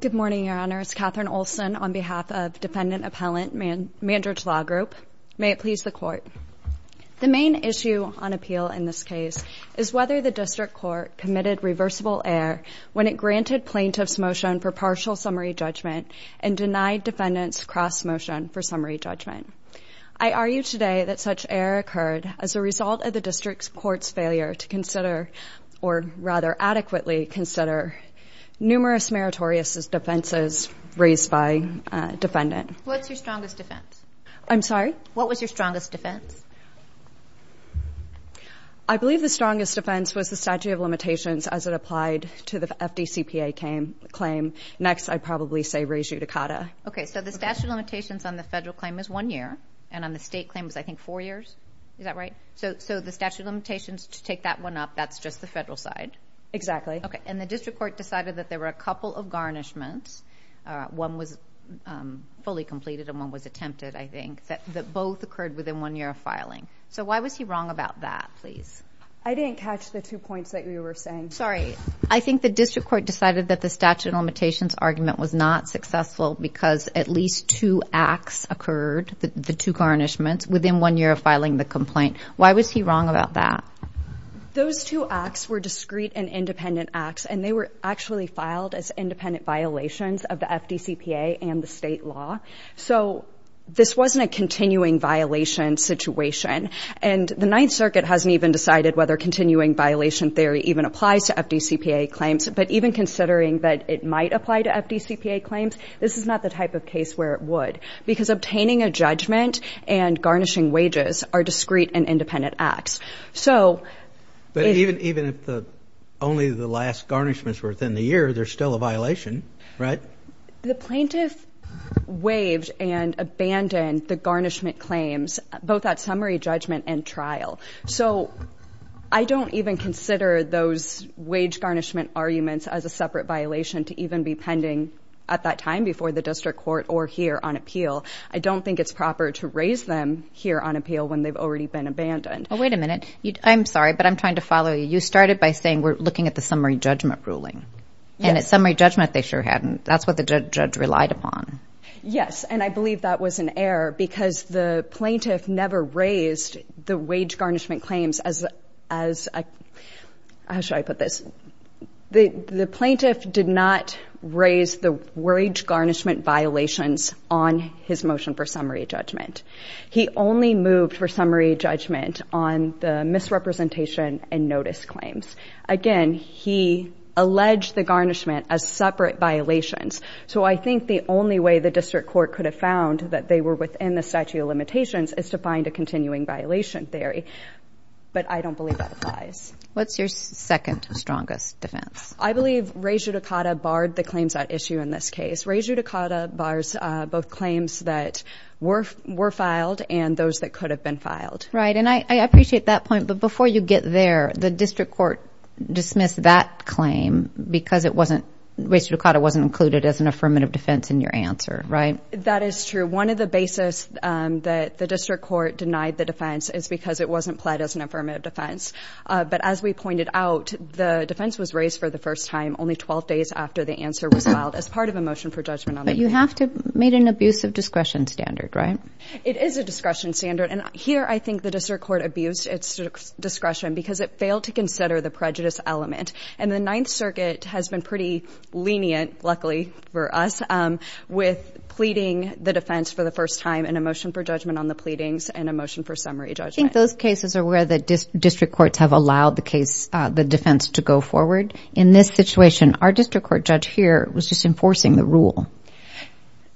Good morning, Your Honor. It's Katherine Olson on behalf of Defendant Appellant Mandarich Law Group. May it please the Court. The main issue on appeal in this case is whether the District Court committed reversible error when it granted plaintiffs' motion for partial summary judgment and denied defendants' cross motion for summary judgment. I argue today that such error occurred as a result of the District Court's failure to consider, or rather adequately consider, numerous meritorious defenses raised by a defendant. What's your strongest defense? I'm sorry? What was your strongest defense? I believe the strongest defense was the statute of limitations as it applied to the FDCPA claim. Next, I'd probably say re judicata. Okay, so the statute of limitations on the federal claim is one year, and on the state claim is, I think, four years? Is that right? So the statute of limitations, to take that one up, that's just the federal side? Exactly. Okay, and the District Court decided that there were a couple of garnishments, one was fully completed and one was attempted, I think, that both occurred within one year of filing. So why was he wrong about that, please? I didn't catch the two points that you were saying. Sorry, I think the District Court decided that the statute of limitations argument was not successful because at least two acts occurred, the two garnishments, within one year of filing the complaint. Why was he wrong about that? Those two acts were discrete and independent acts, and they were actually filed as independent violations of the FDCPA and the state law. So this wasn't a continuing violation situation, and the Ninth Circuit hasn't even decided whether continuing violation theory even applies to FDCPA claims, but even considering that it might apply to FDCPA claims, this is not the type of case where it would, because obtaining a judgment and garnishing wages are discrete and independent acts. But even if only the last garnishments were within the year, there's still a violation, right? The plaintiff waived and abandoned the garnishment claims, both at summary judgment and trial. So I don't even consider those wage garnishment arguments as a separate violation to even be pending at that time before the District Court or here on appeal. I don't think it's proper to raise them here on appeal when they've already been abandoned. Oh, wait a minute. I'm sorry, but I'm trying to follow you. You started by saying we're looking at the summary judgment ruling, and at summary judgment they sure hadn't. That's what the judge relied upon. Yes, and I believe that was an error because the plaintiff never raised the wage garnishment claims as a – how should I put this? The plaintiff did not raise the wage garnishment violations on his motion for summary judgment. He only moved for summary judgment on the misrepresentation and notice claims. Again, he alleged the garnishment as separate violations. So I think the only way the District Court could have found that they were within the statute of limitations is to find a continuing violation theory. But I don't believe that applies. What's your second strongest defense? I believe Rejudicata barred the claims at issue in this case. Rejudicata bars both claims that were filed and those that could have been filed. Right, and I appreciate that point. But before you get there, the District Court dismissed that claim because it wasn't – Rejudicata wasn't included as an affirmative defense in your answer, right? That is true. One of the basis that the District Court denied the defense is because it wasn't pled as an affirmative defense. But as we pointed out, the defense was raised for the first time only 12 days after the answer was filed as part of a motion for judgment. But you have to – made an abuse of discretion standard, right? It is a discretion standard. And here I think the District Court abused its discretion because it failed to consider the prejudice element. And the Ninth Circuit has been pretty lenient, luckily for us, with pleading the defense for the first time in a motion for judgment on the pleadings and a motion for summary judgment. I think those cases are where the District Courts have allowed the defense to go forward. In this situation, our District Court judge here was just enforcing the rule.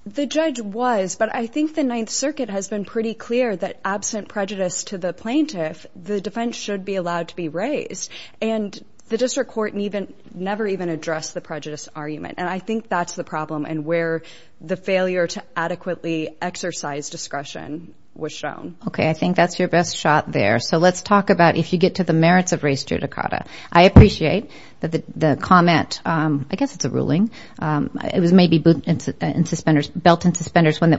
The judge was, but I think the Ninth Circuit has been pretty clear that absent prejudice to the plaintiff, the defense should be allowed to be raised. And the District Court never even addressed the prejudice argument. And I think that's the problem and where the failure to adequately exercise discretion was shown. Okay, I think that's your best shot there. So let's talk about if you get to the merits of race judicata. I appreciate that the comment – I guess it's a ruling. It was maybe belt and suspenders when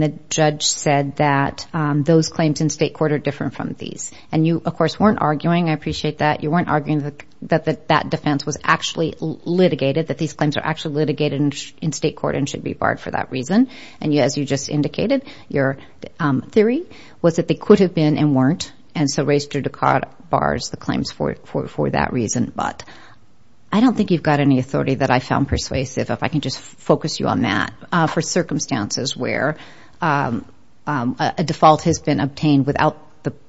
the judge said that those claims in state court are different from these. And you, of course, weren't arguing – I appreciate that. You weren't arguing that that defense was actually litigated, that these claims are actually litigated in state court and should be barred for that reason. And as you just indicated, your theory was that they could have been and weren't. And so race judicata bars the claims for that reason. But I don't think you've got any authority that I found persuasive, if I can just focus you on that, for circumstances where a default has been obtained without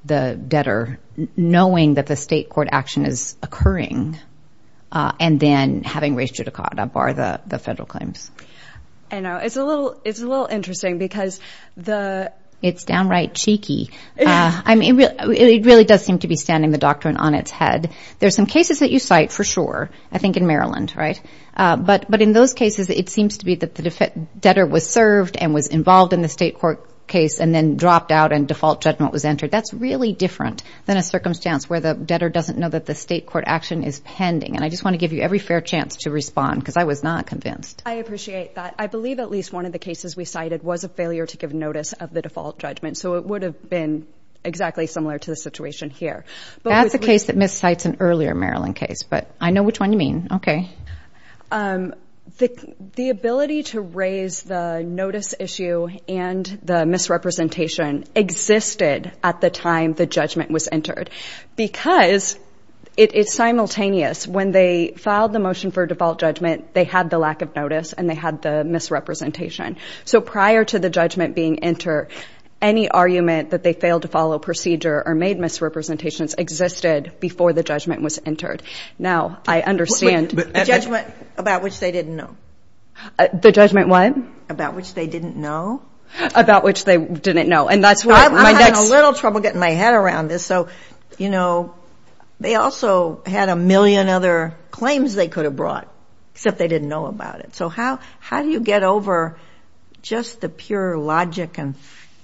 the debtor knowing that the state court action is occurring and then having race judicata bar the federal claims. I know. It's a little interesting because the – It's downright cheeky. I mean, it really does seem to be standing the doctrine on its head. There are some cases that you cite for sure, I think in Maryland, right? But in those cases, it seems to be that the debtor was served and was involved in the state court case and then dropped out and default judgment was entered. That's really different than a circumstance where the debtor doesn't know that the state court action is pending. And I just want to give you every fair chance to respond because I was not convinced. I appreciate that. I believe at least one of the cases we cited was a failure to give notice of the default judgment, so it would have been exactly similar to the situation here. That's a case that miscites an earlier Maryland case, but I know which one you mean. Okay. The ability to raise the notice issue and the misrepresentation existed at the time the judgment was entered because it is simultaneous. When they filed the motion for default judgment, they had the lack of notice and they had the misrepresentation. So prior to the judgment being entered, any argument that they failed to follow procedure or made misrepresentations existed before the judgment was entered. Now, I understand. The judgment about which they didn't know? The judgment what? About which they didn't know? About which they didn't know. I'm having a little trouble getting my head around this. So, you know, they also had a million other claims they could have brought, except they didn't know about it. So how do you get over just the pure logic and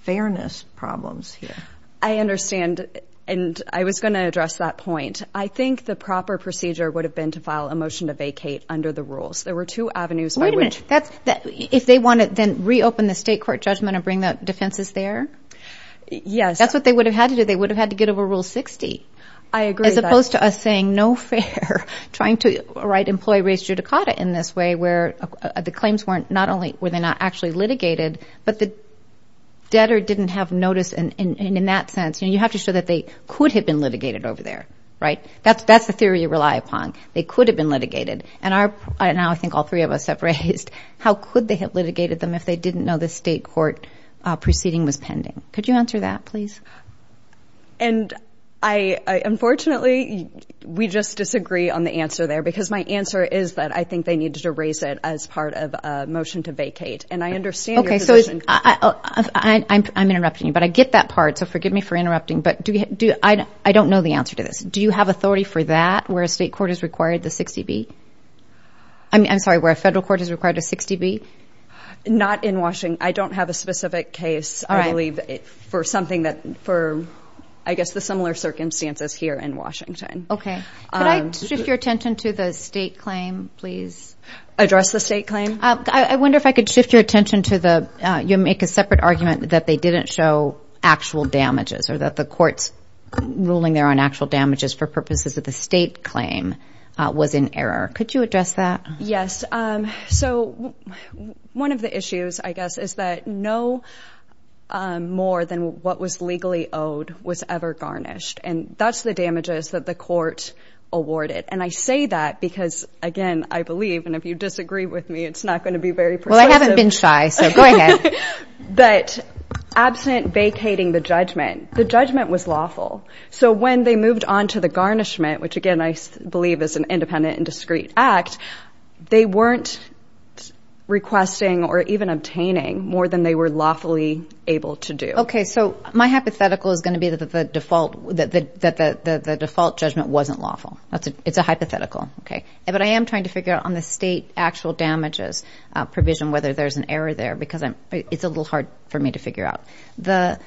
fairness problems here? I understand, and I was going to address that point. I think the proper procedure would have been to file a motion to vacate under the rules. There were two avenues by which. If they want to then reopen the state court judgment and bring the defenses there? Yes. That's what they would have had to do. They would have had to get over Rule 60. I agree. As opposed to us saying no fair, trying to write employee-raised judicata in this way where the claims were not actually litigated, but the debtor didn't have notice. And in that sense, you have to show that they could have been litigated over there, right? That's the theory you rely upon. They could have been litigated. And now I think all three of us have raised how could they have litigated them if they didn't know the state court proceeding was pending. Could you answer that, please? And unfortunately, we just disagree on the answer there, because my answer is that I think they needed to raise it as part of a motion to vacate. And I understand your position. Okay, so I'm interrupting you, but I get that part, so forgive me for interrupting. But I don't know the answer to this. Do you have authority for that, where a state court has required the 60B? I'm sorry, where a federal court has required a 60B? Not in Washington. I don't have a specific case, I believe, for something that, for I guess the similar circumstances here in Washington. Okay. Could I shift your attention to the state claim, please? Address the state claim? I wonder if I could shift your attention to the you make a separate argument that they didn't show actual damages or that the court's ruling there on actual damages for purposes of the state claim was in error. Could you address that? Yes. So one of the issues, I guess, is that no more than what was legally owed was ever garnished, and that's the damages that the court awarded. And I say that because, again, I believe, and if you disagree with me, it's not going to be very persuasive. Well, I haven't been shy, so go ahead. But absent vacating the judgment, the judgment was lawful. So when they moved on to the garnishment, which, again, I believe is an independent and discreet act, they weren't requesting or even obtaining more than they were lawfully able to do. Okay. So my hypothetical is going to be that the default judgment wasn't lawful. It's a hypothetical. Okay. But I am trying to figure out on the state actual damages provision whether there's an error there because it's a little hard for me to figure out. The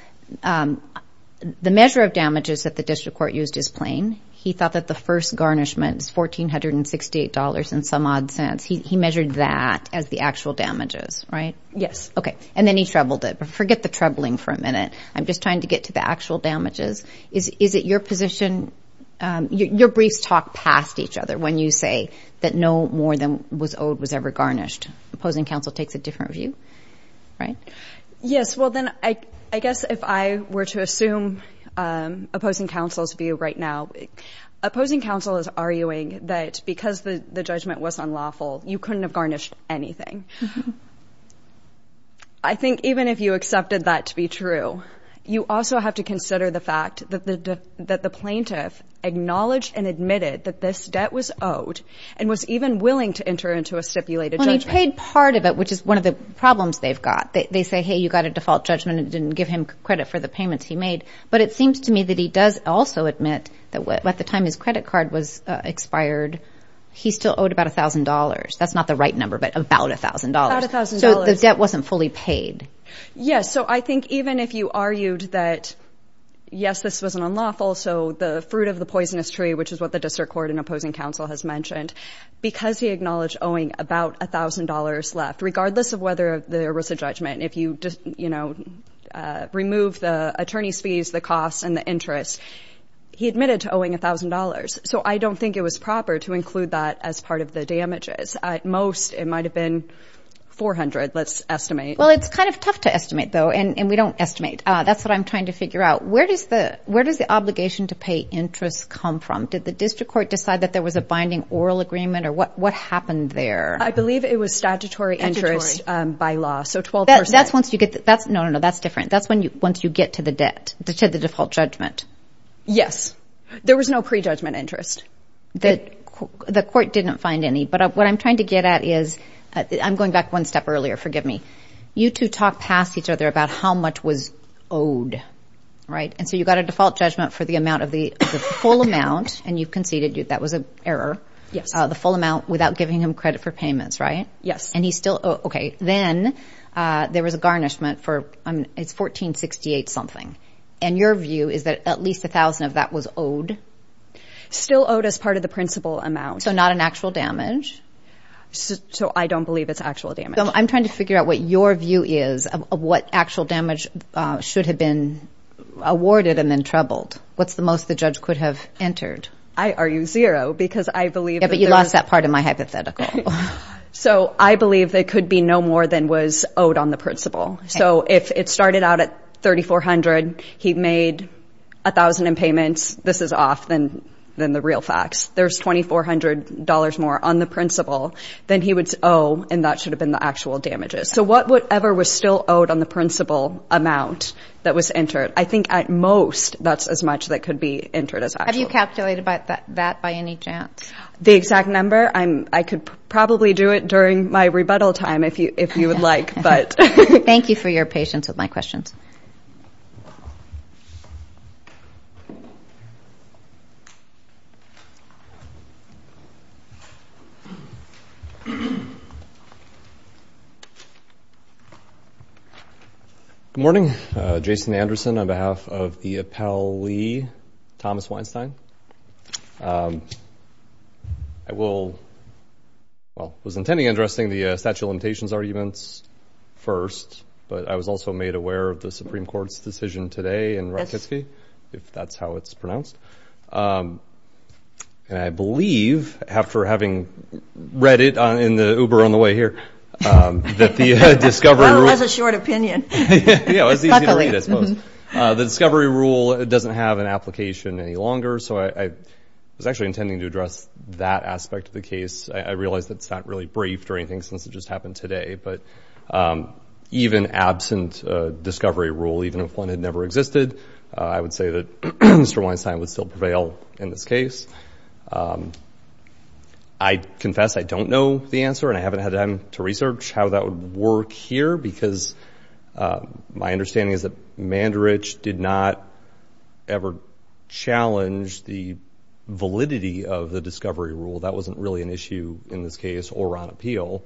measure of damages that the district court used is plain. He thought that the first garnishment is $1,468 and some odd cents. He measured that as the actual damages, right? Yes. Okay. And then he troubled it. But forget the troubling for a minute. I'm just trying to get to the actual damages. Is it your position? Your briefs talk past each other when you say that no more than what was owed was ever garnished. Opposing counsel takes a different view, right? Yes. Well, then I guess if I were to assume opposing counsel's view right now, opposing counsel is arguing that because the judgment was unlawful, you couldn't have garnished anything. I think even if you accepted that to be true, you also have to consider the fact that the plaintiff acknowledged and admitted that this debt was owed and was even willing to enter into a stipulated judgment. Well, and he paid part of it, which is one of the problems they've got. They say, hey, you got a default judgment and didn't give him credit for the payments he made. But it seems to me that he does also admit that at the time his credit card was expired, he still owed about $1,000. That's not the right number, but about $1,000. About $1,000. So the debt wasn't fully paid. Yes. So I think even if you argued that, yes, this was unlawful, so the fruit of the poisonous tree, which is what the district court and opposing counsel has mentioned, because he acknowledged owing about $1,000 left, regardless of whether there was a judgment, if you, you know, removed the attorney's fees, the costs and the interest, he admitted to owing $1,000. So I don't think it was proper to include that as part of the damages. At most, it might have been $400, let's estimate. Well, it's kind of tough to estimate, though, and we don't estimate. That's what I'm trying to figure out. Where does the obligation to pay interest come from? Did the district court decide that there was a binding oral agreement, or what happened there? I believe it was statutory interest by law, so 12%. No, no, no, that's different. That's once you get to the debt, to the default judgment. Yes. There was no prejudgment interest. The court didn't find any, but what I'm trying to get at is, I'm going back one step earlier, forgive me. You two talked past each other about how much was owed, right? And so you got a default judgment for the amount of the full amount, and you conceded that was an error. Yes. The full amount without giving him credit for payments, right? Yes. And he's still, okay. Then there was a garnishment for, it's $1,468 something. And your view is that at least $1,000 of that was owed? Still owed as part of the principal amount. So not an actual damage? So I don't believe it's actual damage. I'm trying to figure out what your view is of what actual damage should have been awarded and then troubled. What's the most the judge could have entered? I argue zero, because I believe that there's- Yeah, but you lost that part of my hypothetical. So I believe there could be no more than was owed on the principal. So if it started out at $3,400, he made $1,000 in payments, this is off than the real facts. There's $2,400 more on the principal than he would owe, and that should have been the actual damages. So whatever was still owed on the principal amount that was entered, I think at most that's as much that could be entered as actual. Have you calculated that by any chance? The exact number? I could probably do it during my rebuttal time if you would like, but- Thank you for your patience with my questions. Good morning. Jason Anderson on behalf of the appellee, Thomas Weinstein. I will-well, was intending on addressing the statute of limitations arguments first, but I was also made aware of the Supreme Court's decision today in Rakitsky, if that's how it's pronounced. And I believe, after having read it in the Uber on the way here, that the discovery rule- Well, it was a short opinion. Yeah, it was easy to read, I suppose. The discovery rule doesn't have an application any longer, so I was actually intending to address that aspect of the case. I realize that's not really briefed or anything since it just happened today, but even absent a discovery rule, even if one had never existed, I would say that Mr. Weinstein would still prevail in this case. I confess I don't know the answer and I haven't had time to research how that would work here because my understanding is that Mandridge did not ever challenge the validity of the discovery rule. That wasn't really an issue in this case or on appeal.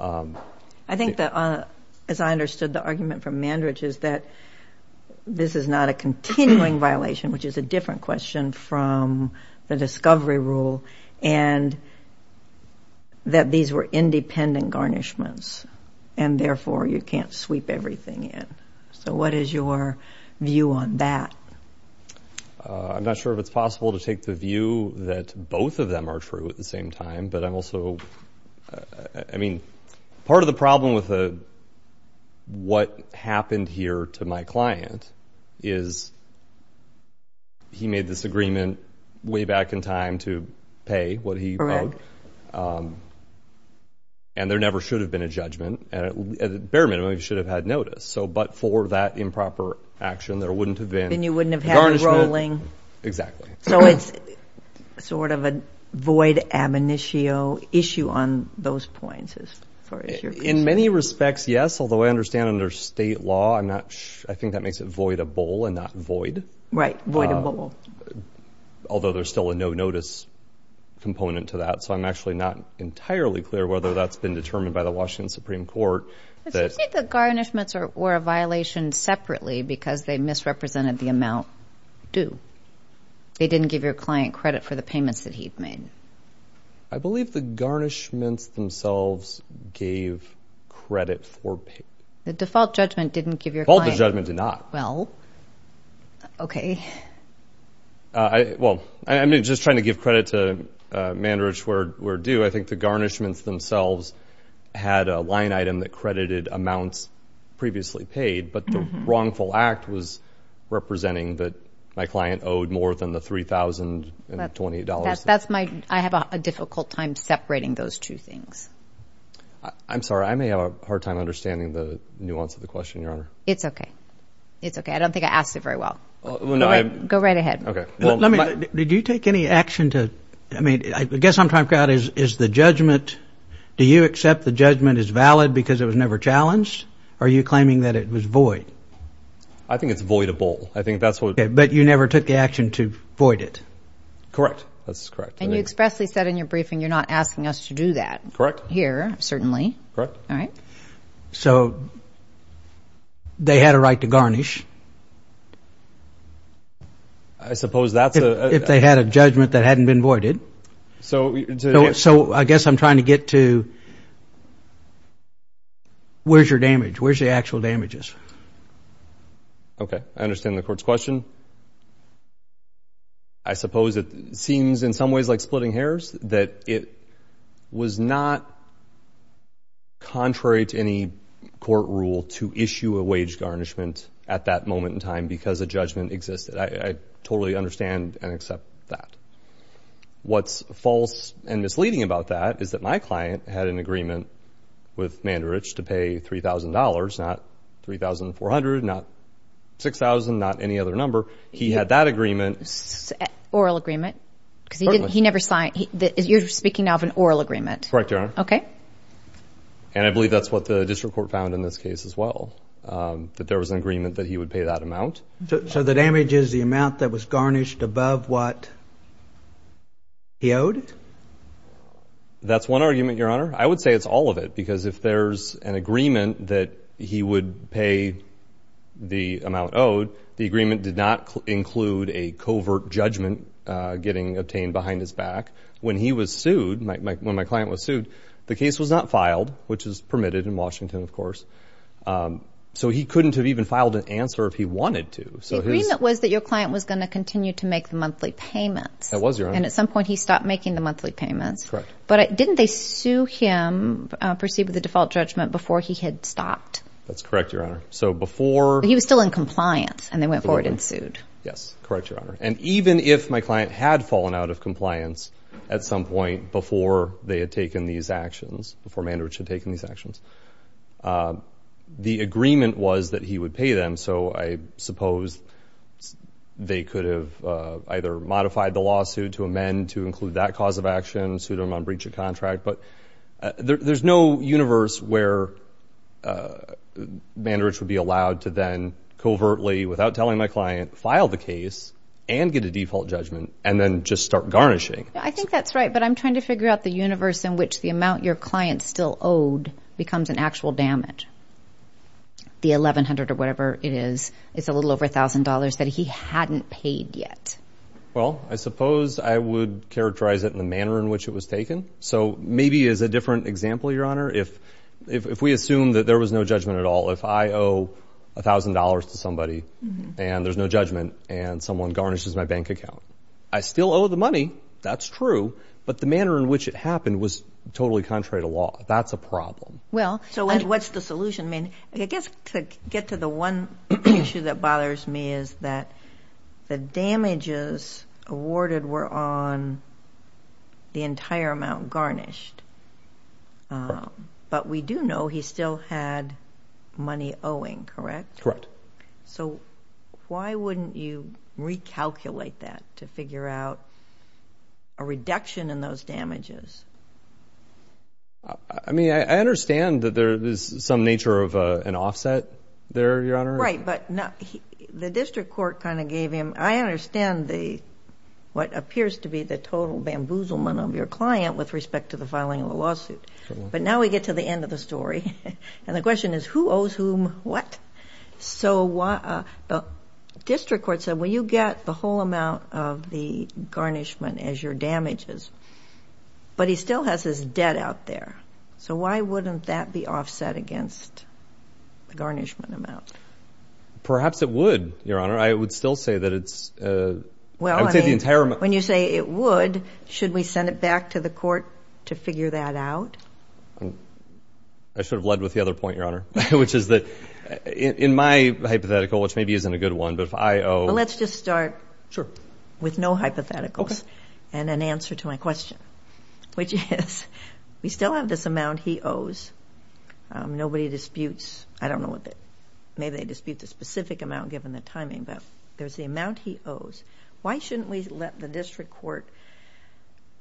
I think that, as I understood the argument from Mandridge, is that this is not a continuing violation, which is a different question from the discovery rule, and that these were independent garnishments and therefore you can't sweep everything in. So what is your view on that? I'm not sure if it's possible to take the view that both of them are true at the same time, but I'm also, I mean, part of the problem with what happened here to my client is he made this agreement way back in time to pay what he owed, and there never should have been a judgment. At the bare minimum, he should have had notice, but for that improper action, there wouldn't have been Then you wouldn't have had the rolling. Exactly. So it's sort of a void, ab initio issue on those points, as far as you're concerned. In many respects, yes, although I understand under state law, I think that makes it voidable and not void. Right, voidable. Although there's still a no-notice component to that, so I'm actually not entirely clear whether that's been determined by the Washington Supreme Court. It seems like the garnishments were a violation separately because they misrepresented the amount due. They didn't give your client credit for the payments that he'd made. I believe the garnishments themselves gave credit for payments. The default judgment didn't give your client credit. Both the judgments did not. Well, okay. Well, I mean, just trying to give credit to Mandridge where due, I think the garnishments themselves had a line item that credited amounts previously paid, but the wrongful act was representing that my client owed more than the $3,020. I have a difficult time separating those two things. I'm sorry. I may have a hard time understanding the nuance of the question, Your Honor. It's okay. It's okay. I don't think I asked it very well. Go right ahead. Okay. Did you take any action to, I mean, I guess I'm trying to figure out is the judgment, do you accept the judgment is valid because it was never challenged, or are you claiming that it was void? I think it's voidable. I think that's what. Okay. But you never took the action to void it? Correct. That's correct. And you expressly said in your briefing you're not asking us to do that. Correct. Here, certainly. Correct. All right. So they had a right to garnish. I suppose that's a... If they had a judgment that hadn't been voided. So I guess I'm trying to get to where's your damage? Where's the actual damages? Okay. I understand the court's question. I suppose it seems in some ways like splitting hairs that it was not contrary to any court rule to issue a wage garnishment at that moment in time because a judgment existed. I totally understand and accept that. What's false and misleading about that is that my client had an agreement with Mandarich to pay $3,000, not $3,400, not $6,000, not any other number. He had that agreement. Oral agreement? Certainly. Because he never signed. You're speaking now of an oral agreement. Correct, Your Honor. Okay. And I believe that's what the district court found in this case as well, that there was an agreement that he would pay that amount. So the damage is the amount that was garnished above what he owed? That's one argument, Your Honor. I would say it's all of it because if there's an agreement that he would pay the amount owed, the agreement did not include a covert judgment getting obtained behind his back. When he was sued, when my client was sued, the case was not filed, which is permitted in Washington, of course. So he couldn't have even filed an answer if he wanted to. The agreement was that your client was going to continue to make the monthly payments. That was, Your Honor. And at some point he stopped making the monthly payments. Correct. But didn't they sue him, proceed with the default judgment, before he had stopped? That's correct, Your Honor. So before he was still in compliance and they went forward and sued. Yes. Correct, Your Honor. And even if my client had fallen out of compliance at some point before they had taken these actions, before Mandarich had taken these actions, the agreement was that he would pay them. So I suppose they could have either modified the lawsuit to amend to include that cause of action, sued him on breach of contract. But there's no universe where Mandarich would be allowed to then covertly, without telling my client, file the case and get a default judgment and then just start garnishing. I think that's right. But I'm trying to figure out the universe in which the amount your client still owed becomes an actual damage. The $1,100 or whatever it is, it's a little over $1,000 that he hadn't paid yet. Well, I suppose I would characterize it in the manner in which it was taken. So maybe as a different example, Your Honor, if we assume that there was no judgment at all, if I owe $1,000 to somebody and there's no judgment and someone garnishes my bank account, I still owe the money. That's true. But the manner in which it happened was totally contrary to law. That's a problem. Well, so what's the solution? I guess to get to the one issue that bothers me is that the damages awarded were on the entire amount garnished. But we do know he still had money owing, correct? Correct. So why wouldn't you recalculate that to figure out a reduction in those damages? I mean, I understand that there is some nature of an offset there, Your Honor. Right, but the district court kind of gave him, I understand what appears to be the total bamboozlement of your client with respect to the filing of a lawsuit. But now we get to the end of the story. And the question is, who owes whom what? So the district court said, well, you get the whole amount of the garnishment as your damages, but he still has his debt out there. So why wouldn't that be offset against the garnishment amount? Perhaps it would, Your Honor. I would still say that it's, I would say the entire amount. When you say it would, should we send it back to the court to figure that out? I should have led with the other point, Your Honor, which is that in my hypothetical, which maybe isn't a good one, but if I owe. Well, let's just start with no hypotheticals and an answer to my question, which is we still have this amount he owes. Nobody disputes, I don't know, maybe they dispute the specific amount given the timing, but there's the amount he owes. Why shouldn't we let the district court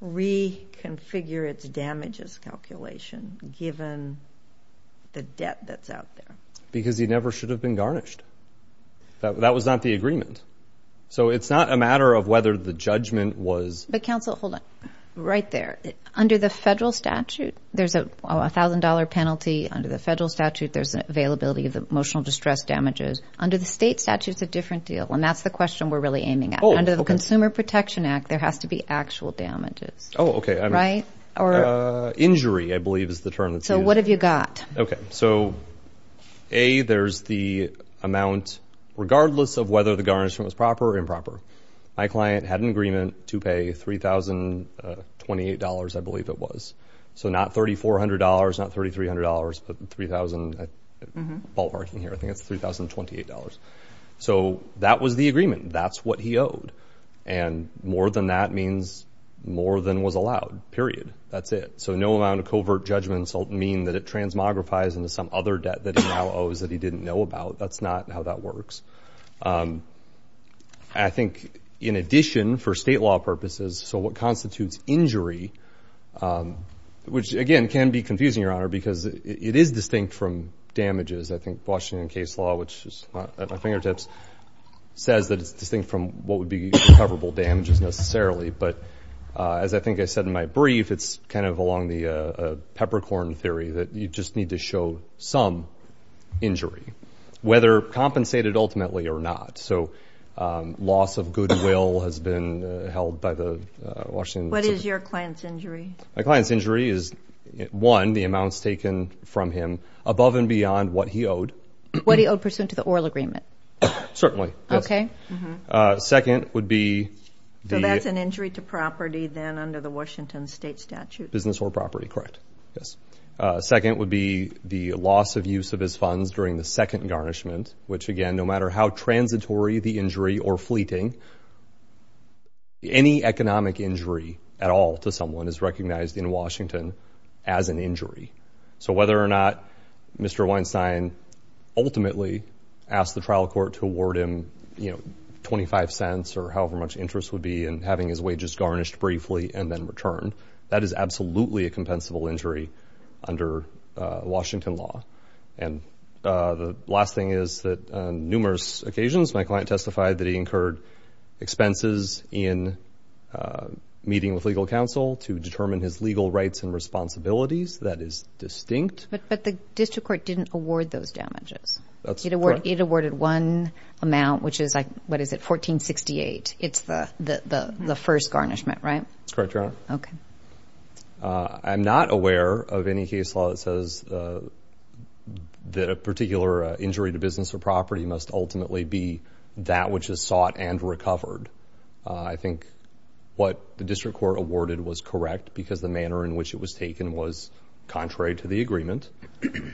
reconfigure its damages calculation given the debt that's out there? Because he never should have been garnished. That was not the agreement. So it's not a matter of whether the judgment was... But, counsel, hold on. Right there. Under the federal statute, there's a $1,000 penalty. Under the federal statute, there's an availability of emotional distress damages. Under the state statute, it's a different deal. And that's the question we're really aiming at. Under the Consumer Protection Act, there has to be actual damages. Oh, okay. Right? Injury, I believe, is the term that's used. So what have you got? Okay. So, A, there's the amount, regardless of whether the garnishment was proper or improper. My client had an agreement to pay $3,028, I believe it was. So not $3,400, not $3,300, but $3,000... I'm ballparking here. I think it's $3,028. So that was the agreement. That's what he owed. And more than that means more than was allowed. Period. That's it. So no amount of covert judgments mean that it transmogrifies into some other debt that he now owes that he didn't know about. That's not how that works. I think, in addition, for state law purposes, so what constitutes injury, which, again, can be confusing, Your Honor, because it is distinct from damages. I think Washington case law, which is at my fingertips, says that it's distinct from what would be recoverable damages necessarily. But as I think I said in my brief, it's kind of along the peppercorn theory that you just need to show some injury, whether compensated ultimately or not. So loss of goodwill has been held by the Washington... What is your client's injury? My client's injury is, one, the amounts taken from him above and beyond what he owed. What he owed pursuant to the oral agreement. Certainly. Second would be the... So that's an injury to property then under the Washington state statute. Business or property, correct, yes. Second would be the loss of use of his funds during the second garnishment, which, again, no matter how transitory the injury or fleeting, any economic injury at all to someone is recognized in Washington as an injury. So whether or not Mr. Weinstein ultimately asked the trial court to award him, you know, 25 cents or however much interest would be in having his wages garnished briefly and then returned, that is absolutely a compensable injury under Washington law. And the last thing is that on numerous occasions my client testified that he incurred expenses in meeting with legal counsel to determine his legal rights and responsibilities. That is distinct. But the district court didn't award those damages. That's correct. It awarded one amount, which is, what is it, 1468. It's the first garnishment, right? That's correct, Your Honor. Okay. I'm not aware of any case law that says that a particular injury to business or property must ultimately be that which is sought and recovered. I think what the district court awarded was correct because the manner in which it was taken was contrary to the agreement.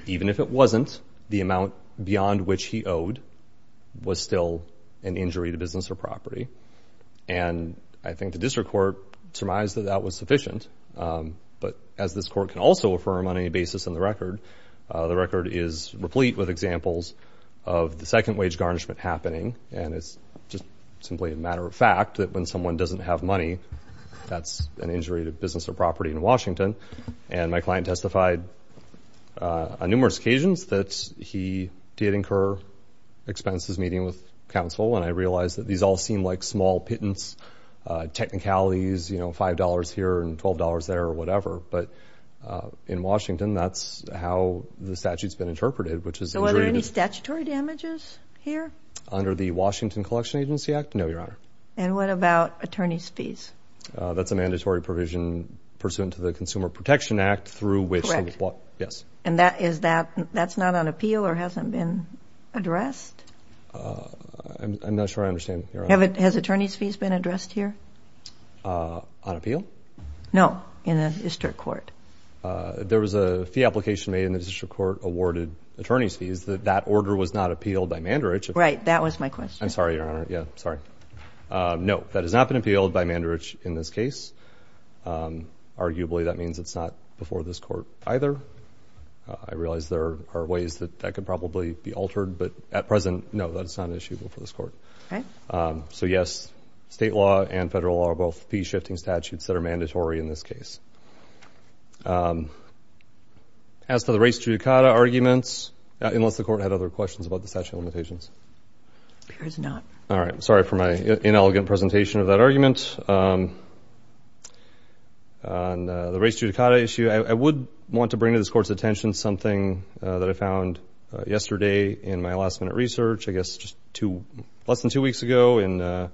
Even if it wasn't, the amount beyond which he owed was still an injury to business or property. And I think the district court surmised that that was sufficient. But as this court can also affirm on any basis in the record, the record is replete with examples of the second wage garnishment happening, and it's just simply a matter of fact that when someone doesn't have money, that's an injury to business or property in Washington. And my client testified on numerous occasions that he did incur expenses meeting with counsel, and I realize that these all seem like small pittance technicalities, you know, $5 here and $12 there or whatever. But in Washington, that's how the statute's been interpreted, which is injury to business. So are there any statutory damages here? Under the Washington Collection Agency Act? No, Your Honor. And what about attorney's fees? That's a mandatory provision pursuant to the Consumer Protection Act through which the law – Correct. Yes. And that is that – that's not on appeal or hasn't been addressed? I'm not sure I understand, Your Honor. Has attorney's fees been addressed here? On appeal? No, in the district court. There was a fee application made in the district court awarded attorney's fees that that order was not appealed by Mandarich. Right, that was my question. I'm sorry, Your Honor. Yeah, sorry. No, that has not been appealed by Mandarich in this case. Arguably, that means it's not before this court either. I realize there are ways that that could probably be altered, but at present, no, that's not an issue before this court. Okay. So, yes, state law and federal law are both fee-shifting statutes that are mandatory in this case. As to the race judicata arguments, unless the Court had other questions about the statute of limitations. There is not. All right. I'm sorry for my inelegant presentation of that argument. On the race judicata issue, I would want to bring to this Court's attention something that I found yesterday in my last-minute research. I guess just less than two weeks ago in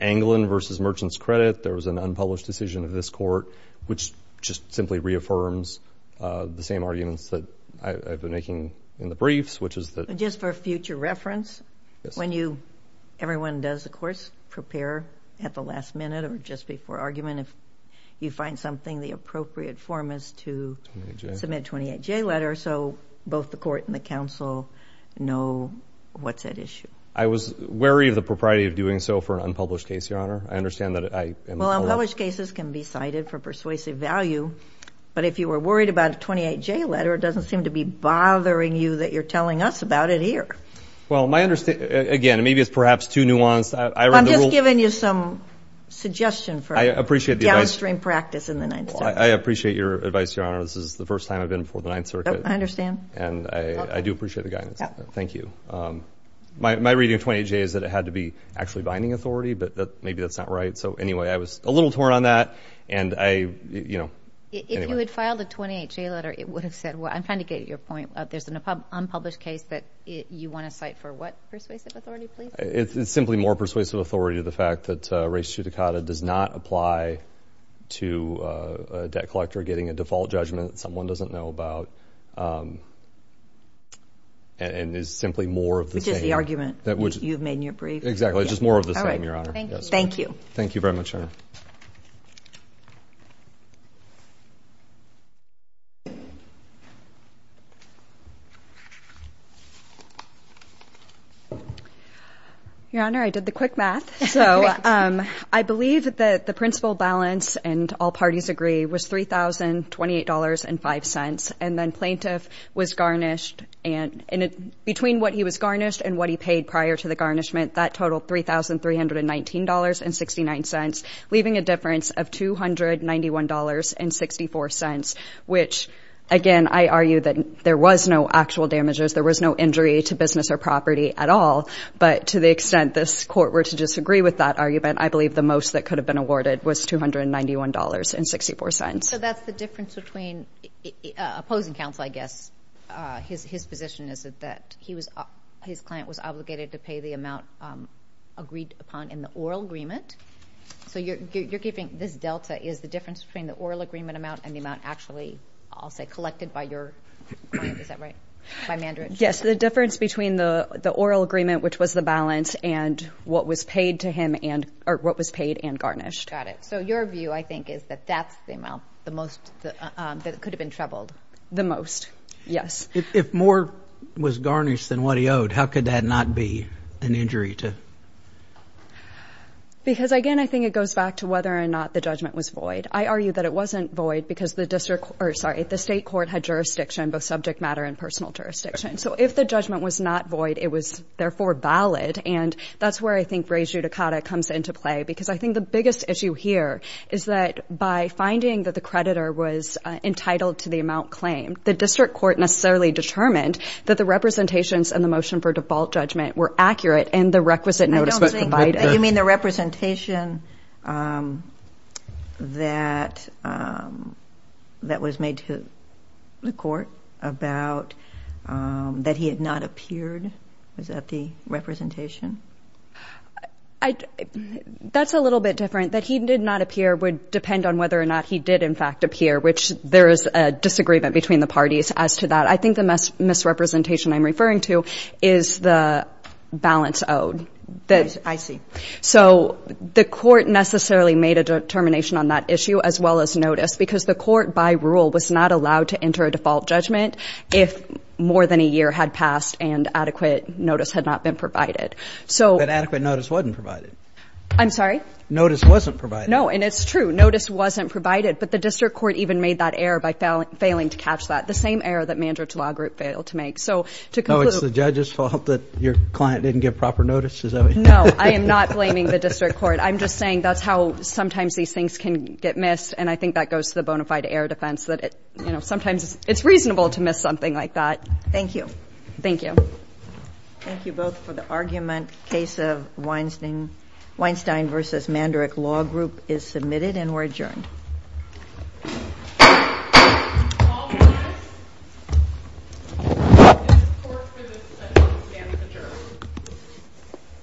Anglin v. Merchants Credit, there was an unpublished decision of this Court, which just simply reaffirms the same arguments that I've been making in the briefs, which is that. Just for future reference, when you, everyone does, of course, prepare at the last minute or just before argument, if you find something, the appropriate form is to submit a 28-J letter so both the Court and the counsel know what's at issue. I was wary of the propriety of doing so for an unpublished case, Your Honor. I understand that. Well, unpublished cases can be cited for persuasive value, but if you were worried about a 28-J letter, it doesn't seem to be bothering you that you're telling us about it here. Well, my understanding, again, maybe it's perhaps too nuanced. I read the rules. I'm just giving you some suggestion for downstream practice in the Ninth Circuit. I appreciate the advice. I appreciate your advice, Your Honor. This is the first time I've been before the Ninth Circuit. I understand. And I do appreciate the guidance. Thank you. My reading of 28-J is that it had to be actually binding authority, but maybe that's not right. So, anyway, I was a little torn on that, and I, you know, anyway. If you had filed a 28-J letter, it would have said what? I'm trying to get at your point. There's an unpublished case that you want to cite for what persuasive authority, please? It's simply more persuasive authority to the fact that res judicata does not apply to a debt collector getting a default judgment that someone doesn't know about and is simply more of the same. Which is the argument you've made in your brief. Exactly. It's just more of the same, Your Honor. Thank you. Thank you very much, Your Honor. Thank you. Your Honor, I did the quick math. So, I believe that the principal balance and all parties agree was $3,028.05. And then plaintiff was garnished, and between what he was garnished and what he paid prior to the garnishment, that totaled $3,319.69, leaving a difference of $291.64. Which, again, I argue that there was no actual damages. There was no injury to business or property at all. But to the extent this Court were to disagree with that argument, I believe the most that could have been awarded was $291.64. His position is that his client was obligated to pay the amount agreed upon in the oral agreement. So, you're giving this delta is the difference between the oral agreement amount and the amount actually, I'll say, collected by your client. Is that right? By Mandridge. Yes. The difference between the oral agreement, which was the balance, and what was paid and garnished. Got it. So, your view, I think, is that that's the amount that could have been trebled. The most, yes. If more was garnished than what he owed, how could that not be an injury to? Because, again, I think it goes back to whether or not the judgment was void. I argue that it wasn't void because the state court had jurisdiction, both subject matter and personal jurisdiction. So, if the judgment was not void, it was, therefore, valid. And that's where I think re judicata comes into play. Because I think the biggest issue here is that by finding that the creditor was entitled to the amount claimed, the district court necessarily determined that the representations and the motion for default judgment were accurate in the requisite notice provided. You mean the representation that was made to the court about that he had not appeared? Was that the representation? That's a little bit different. That he did not appear would depend on whether or not he did, in fact, appear, which there is a disagreement between the parties as to that. I think the misrepresentation I'm referring to is the balance owed. I see. So the court necessarily made a determination on that issue as well as notice because the court, by rule, was not allowed to enter a default judgment if more than a year had passed and adequate notice had not been provided. But adequate notice wasn't provided. I'm sorry? Notice wasn't provided. No, and it's true. Notice wasn't provided, but the district court even made that error by failing to catch that, the same error that Mandrich Law Group failed to make. So to conclude. No, it's the judge's fault that your client didn't get proper notice? Is that what you're saying? No, I am not blaming the district court. I'm just saying that's how sometimes these things can get missed, and I think that goes to the bona fide error defense that, you know, sometimes it's reasonable to miss something like that. Thank you. Thank you. Thank you both for the argument. Case of Weinstein v. Mandrich Law Group is submitted and we're adjourned.